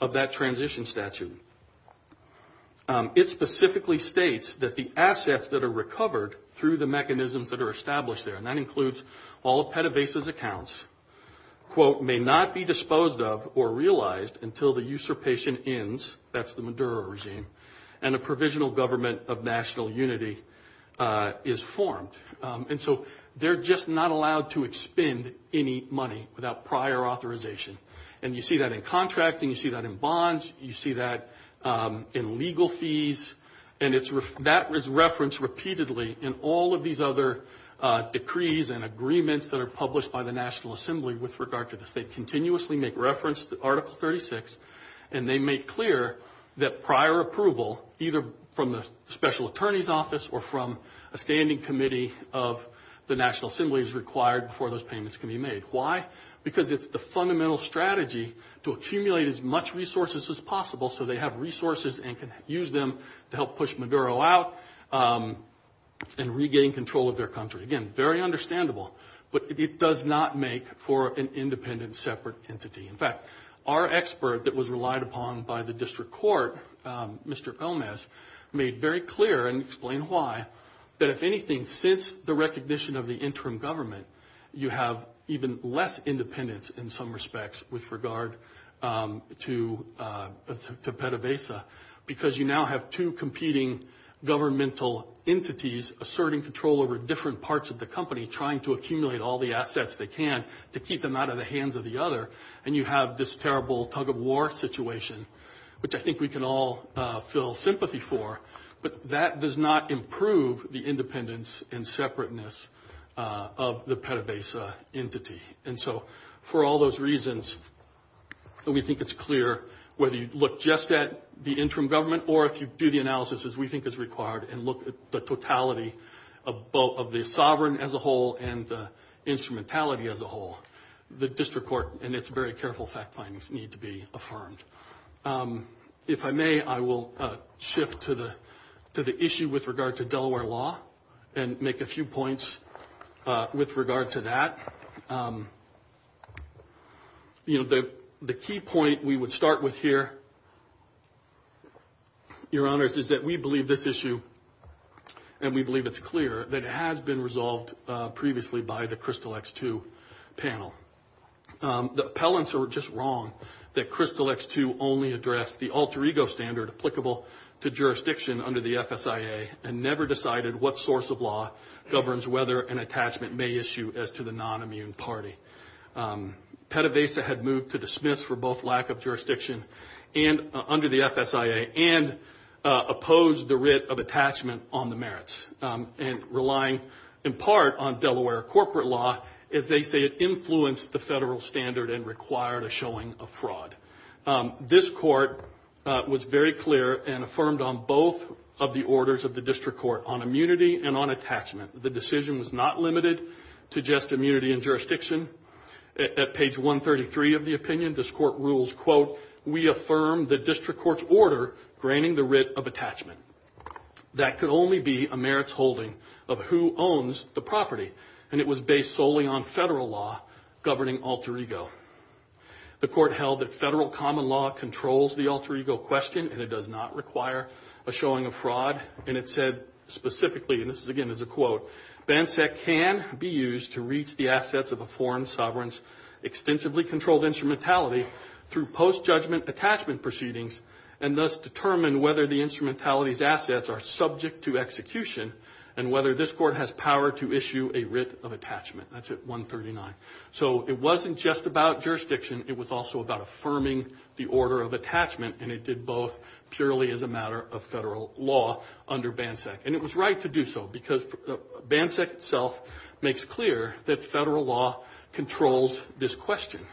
of that transition statute, it specifically states that the assets that are recovered through the mechanisms that are established there, and that includes all of PETAVASA's accounts, quote, may not be disposed of or realized until the usurpation ends, that's the Maduro regime, and a provisional government of national unity is formed. And so they're just not allowed to expend any money without prior authorization. And you see that in contracting. You see that in bonds. You see that in legal fees. And that is referenced repeatedly in all of these other decrees and agreements that are published by the National Assembly with regard to this. They continuously make reference to Article 36, and they make clear that prior approval either from the special attorney's office or from a standing committee of the National Assembly is required before those payments can be made. Why? Because it's the fundamental strategy to accumulate as much resources as possible so they have resources and can use them to help push Maduro out and regain control of their country. Again, very understandable, but it does not make for an independent separate entity. In fact, our expert that was relied upon by the district court, Mr. Gomez, made very clear and explained why, that if anything, since the recognition of the interim government, you have even less independence in some respects with regard to PETAVASA because you now have two competing governmental entities asserting control over different parts of the company, trying to accumulate all the assets they can to keep them out of the hands of the other, and you have this terrible tug-of-war situation, which I think we can all feel sympathy for, but that does not improve the independence and separateness of the PETAVASA entity. And so for all those reasons, we think it's clear whether you look just at the interim government or if you do the analysis as we think is required and look at the totality of both the sovereign as a whole and the instrumentality as a whole, the district court and its very careful fact findings need to be affirmed. If I may, I will shift to the issue with regard to Delaware law and make a few points with regard to that. You know, the key point we would start with here, Your Honors, is that we believe this issue, and we believe it's clear, that it has been resolved previously by the Crystal X-2 panel. The appellants are just wrong that Crystal X-2 only addressed the alter ego standard that is applicable to jurisdiction under the FSIA and never decided what source of law governs whether an attachment may issue as to the non-immune party. PETAVASA had moved to dismiss for both lack of jurisdiction under the FSIA and opposed the writ of attachment on the merits, and relying in part on Delaware corporate law as they say it influenced the federal standard and required a showing of fraud. This court was very clear and affirmed on both of the orders of the district court, on immunity and on attachment. The decision was not limited to just immunity and jurisdiction. At page 133 of the opinion, this court rules, quote, we affirm the district court's order granting the writ of attachment. That could only be a merits holding of who owns the property, and it was based solely on federal law governing alter ego. The court held that federal common law controls the alter ego question and it does not require a showing of fraud, and it said specifically, and this again is a quote, BANSEC can be used to reach the assets of a foreign sovereign's extensively controlled instrumentality through post-judgment attachment proceedings and thus determine whether the instrumentality's assets are subject to execution and whether this court has power to issue a writ of attachment. That's at 139. So it wasn't just about jurisdiction. It was also about affirming the order of attachment, and it did both purely as a matter of federal law under BANSEC, and it was right to do so because BANSEC itself makes clear that federal law controls this question.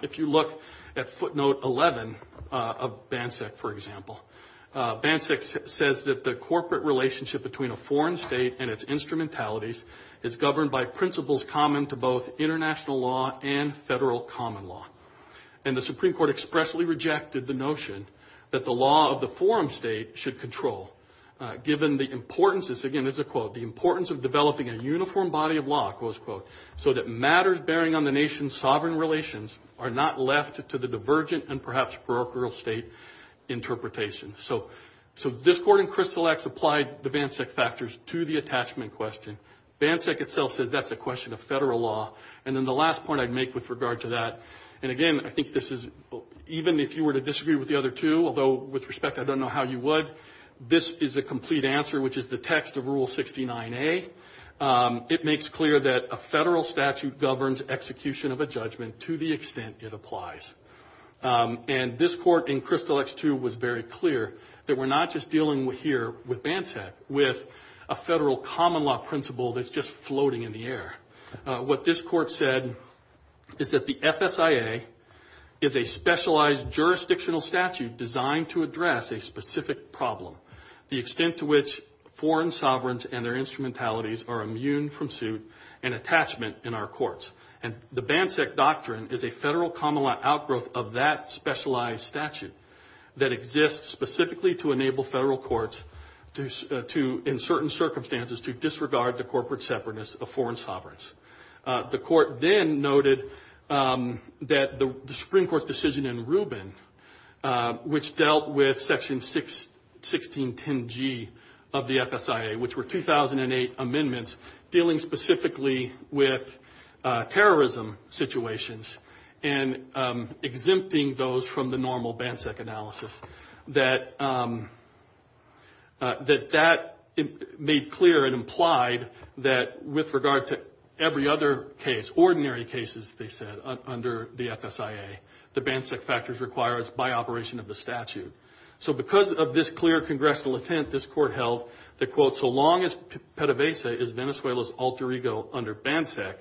If you look at footnote 11 of BANSEC, for example, BANSEC says that the corporate relationship between a foreign state and its instrumentalities is governed by principles common to both international law and federal common law, and the Supreme Court expressly rejected the notion that the law of the foreign state should control, given the importance, this again is a quote, the importance of developing a uniform body of law, quote, unquote, so that matters bearing on the nation's sovereign relations are not left to the divergent and perhaps parochial state interpretation. So this court in Crystal X applied the BANSEC factors to the attachment question. BANSEC itself says that's a question of federal law, and then the last point I'd make with regard to that, and again I think this is even if you were to disagree with the other two, although with respect I don't know how you would, this is a complete answer, which is the text of Rule 69A. It makes clear that a federal statute governs execution of a judgment to the extent it applies, and this court in Crystal X too was very clear that we're not just dealing here with BANSEC, with a federal common law principle that's just floating in the air. What this court said is that the FSIA is a specialized jurisdictional statute designed to address a specific problem, the extent to which foreign sovereigns and their instrumentalities are immune from suit and attachment in our courts, and the BANSEC doctrine is a federal common law outgrowth of that specialized statute that exists specifically to enable federal courts to, in certain circumstances, to disregard the corporate separateness of foreign sovereigns. The court then noted that the Supreme Court's decision in Rubin, which dealt with Section 1610G of the FSIA, which were 2008 amendments dealing specifically with terrorism situations and exempting those from the normal BANSEC analysis, that that made clear and implied that with regard to every other case, ordinary cases, they said, under the FSIA, the BANSEC factors require us by operation of the statute. So because of this clear congressional intent, this court held that, quote, so long as PDVSA is Venezuela's alter ego under BANSEC,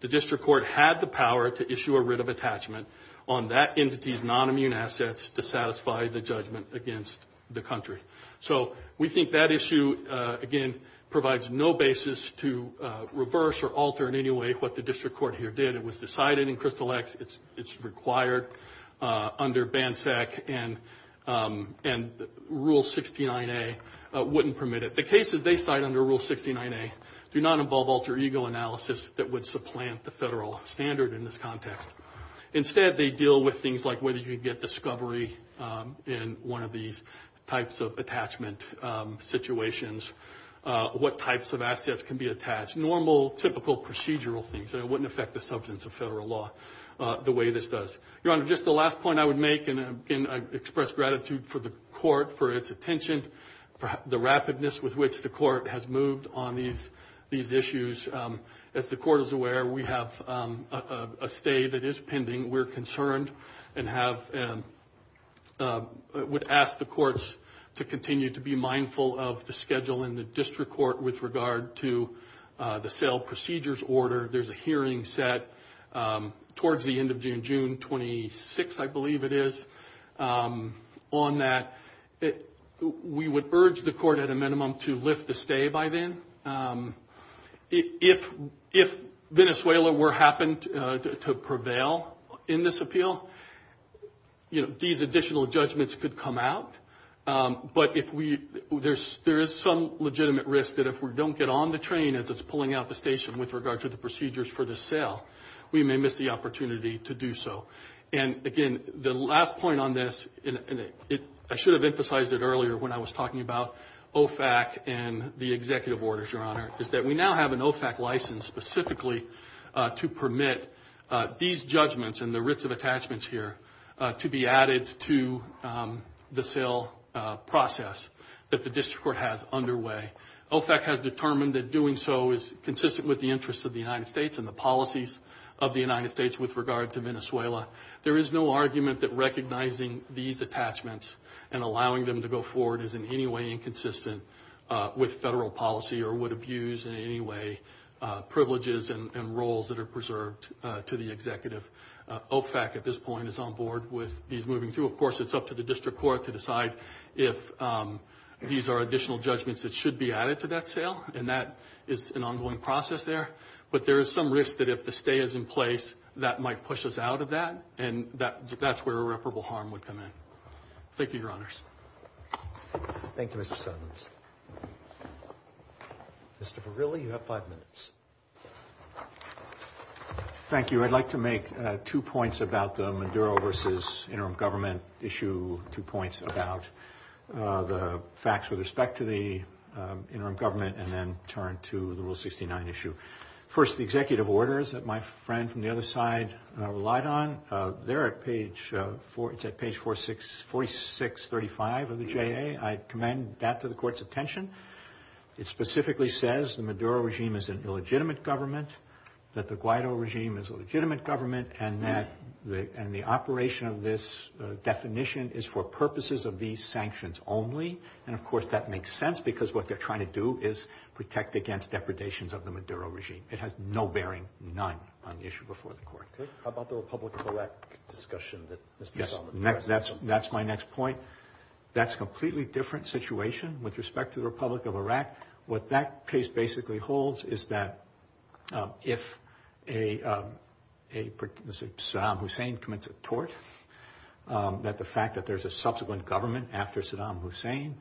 the district court had the power to issue a writ of attachment on that entity's nonimmune assets to satisfy the judgment against the country. So we think that issue, again, provides no basis to reverse or alter in any way what the district court here did. It was decided in Crystal X it's required under BANSEC, and Rule 69A wouldn't permit it. The cases they cite under Rule 69A do not involve alter ego analysis that would supplant the federal standard in this context. Instead, they deal with things like whether you could get discovery in one of these types of attachment situations, what types of assets can be attached, normal, typical, procedural things. It wouldn't affect the substance of federal law the way this does. Your Honor, just the last point I would make, and I express gratitude for the court for its attention, for the rapidness with which the court has moved on these issues. As the court is aware, we have a stay that is pending. We're concerned and would ask the courts to continue to be mindful of the schedule in the district court with regard to the sale procedures order. There's a hearing set towards the end of June, June 26, I believe it is, on that. We would urge the court at a minimum to lift the stay by then. If Venezuela were to happen to prevail in this appeal, these additional judgments could come out. But there is some legitimate risk that if we don't get on the train as it's pulling out the station with regard to the procedures for the sale, we may miss the opportunity to do so. And, again, the last point on this, and I should have emphasized it earlier when I was talking about OFAC and the executive orders, Your Honor, is that we now have an OFAC license specifically to permit these judgments and the writs of attachments here to be added to the sale process that the district court has underway. OFAC has determined that doing so is consistent with the interests of the United States and the policies of the United States with regard to Venezuela. There is no argument that recognizing these attachments and allowing them to go forward is in any way inconsistent with federal policy or would abuse in any way privileges and roles that are preserved to the executive. OFAC at this point is on board with these moving through. Of course, it's up to the district court to decide if these are additional judgments that should be added to that sale, and that is an ongoing process there. But there is some risk that if the stay is in place, that might push us out of that, and that's where irreparable harm would come in. Thank you, Your Honors. Thank you, Mr. Suttons. Mr. Verrilli, you have five minutes. Thank you. I'd like to make two points about the Maduro versus interim government issue, two points about the facts with respect to the interim government, and then turn to the Rule 69 issue. First, the executive orders that my friend from the other side relied on, they're at page 4635 of the JA. I commend that to the Court's attention. It specifically says the Maduro regime is an illegitimate government, that the Guaido regime is a legitimate government, and the operation of this definition is for purposes of these sanctions only. And, of course, that makes sense, because what they're trying to do is protect against depredations of the Maduro regime. It has no bearing, none, on the issue before the Court. How about the Republic of Iraq discussion that Mr. Suttons raised? Yes, that's my next point. What that case basically holds is that if Saddam Hussein commits a tort, that the fact that there's a subsequent government after Saddam Hussein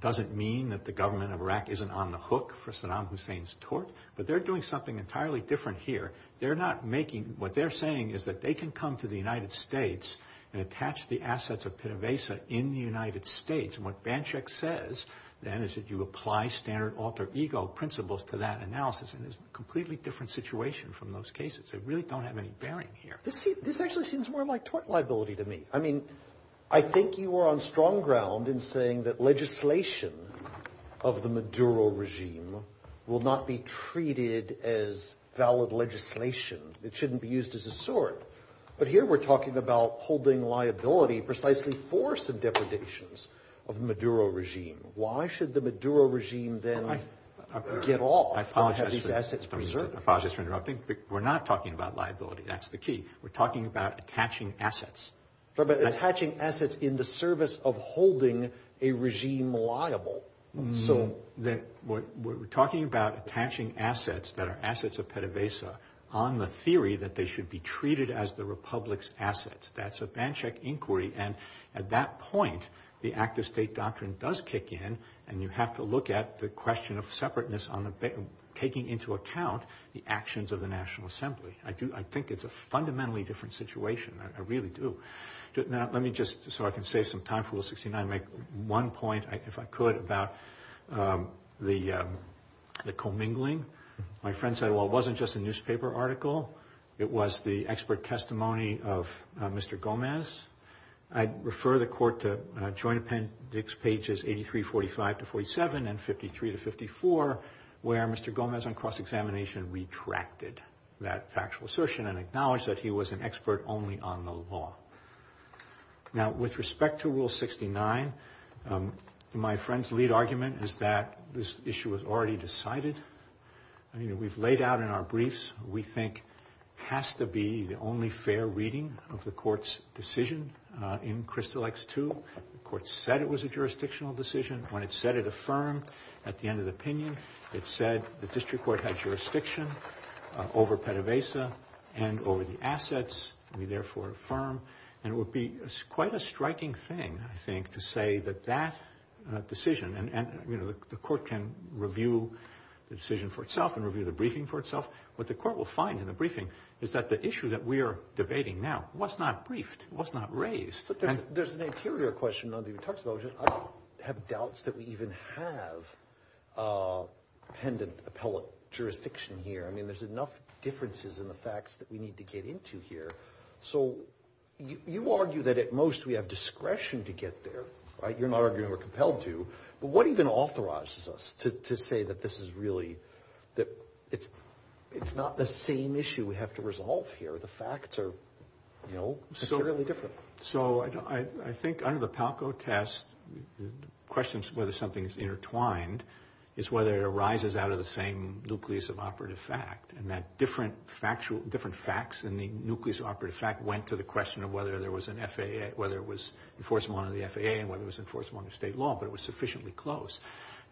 doesn't mean that the government of Iraq isn't on the hook for Saddam Hussein's tort, but they're doing something entirely different here. What they're saying is that they can come to the United States and attach the assets of Pena Vesa in the United States, and what Banchek says, then, is that you apply standard alter ego principles to that analysis, and it's a completely different situation from those cases. They really don't have any bearing here. This actually seems more like tort liability to me. I mean, I think you are on strong ground in saying that legislation of the Maduro regime will not be treated as valid legislation. It shouldn't be used as a sword. But here we're talking about holding liability precisely for some depredations of the Maduro regime. Why should the Maduro regime then get off and have these assets preserved? I apologize for interrupting, but we're not talking about liability. That's the key. We're talking about attaching assets. We're talking about attaching assets in the service of holding a regime liable. We're talking about attaching assets that are assets of Pena Vesa on the theory that they should be treated as the republic's assets. That's a Banchek inquiry, and at that point the act of state doctrine does kick in, and you have to look at the question of separateness taking into account the actions of the National Assembly. I think it's a fundamentally different situation. I really do. Let me just, so I can save some time for Rule 69, make one point, if I could, about the commingling. My friend said, well, it wasn't just a newspaper article. It was the expert testimony of Mr. Gomez. I'd refer the Court to Joint Appendix Pages 83, 45 to 47, and 53 to 54, where Mr. Gomez on cross-examination retracted that factual assertion and acknowledged that he was an expert only on the law. Now, with respect to Rule 69, my friend's lead argument is that this issue was already decided. I mean, we've laid out in our briefs what we think has to be the only fair reading of the Court's decision in Crystal X-2. The Court said it was a jurisdictional decision. When it said it affirmed at the end of the opinion, it said the district court had jurisdiction over Pena Vesa and over the assets. We therefore affirm, and it would be quite a striking thing, I think, to say that that decision, and, you know, the Court can review the decision for itself and review the briefing for itself. What the Court will find in the briefing is that the issue that we are debating now was not briefed, was not raised. There's an interior question, though, that he talks about, which is I have doubts that we even have pendent appellate jurisdiction here. I mean, there's enough differences in the facts that we need to get into here. So you argue that at most we have discretion to get there, right? You're not arguing we're compelled to. But what even authorizes us to say that this is really, that it's not the same issue we have to resolve here? The facts are, you know, entirely different. So I think under the PALCO test, the question of whether something is intertwined is whether it arises out of the same nucleus of operative fact, and that different facts in the nucleus of operative fact went to the question of whether there was an FAA, whether it was enforceable under the FAA and whether it was enforceable under state law, but it was sufficiently close.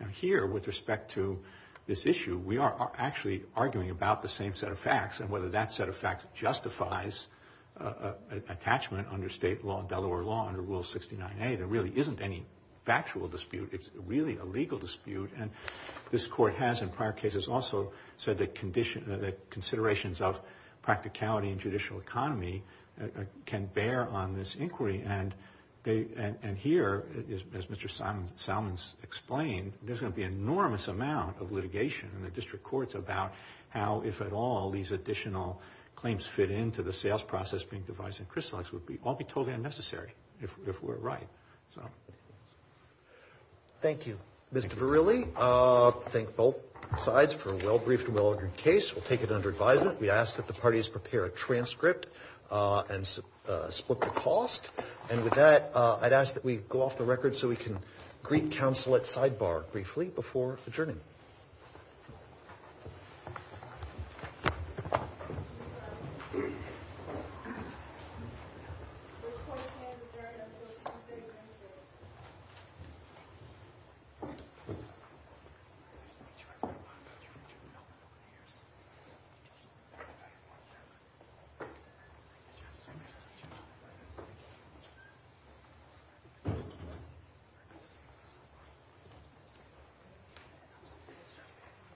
Now here, with respect to this issue, we are actually arguing about the same set of facts and whether that set of facts justifies attachment under state law, Delaware law, under Rule 69A. There really isn't any factual dispute. It's really a legal dispute, and this Court has, in prior cases, also said that considerations of practicality in judicial economy can bear on this inquiry, and here, as Mr. Salmons explained, there's going to be an enormous amount of litigation in the district courts about how, if at all, these additional claims fit into the sales process being devised in Crystal X would all be totally unnecessary if we're right. Thank you, Mr. Verrilli. I thank both sides for a well-briefed and well-ordered case. We'll take it under advisement. We ask that the parties prepare a transcript and split the cost, and with that, I'd ask that we go off the record so we can greet counsel at sidebar briefly before adjourning. Thank you.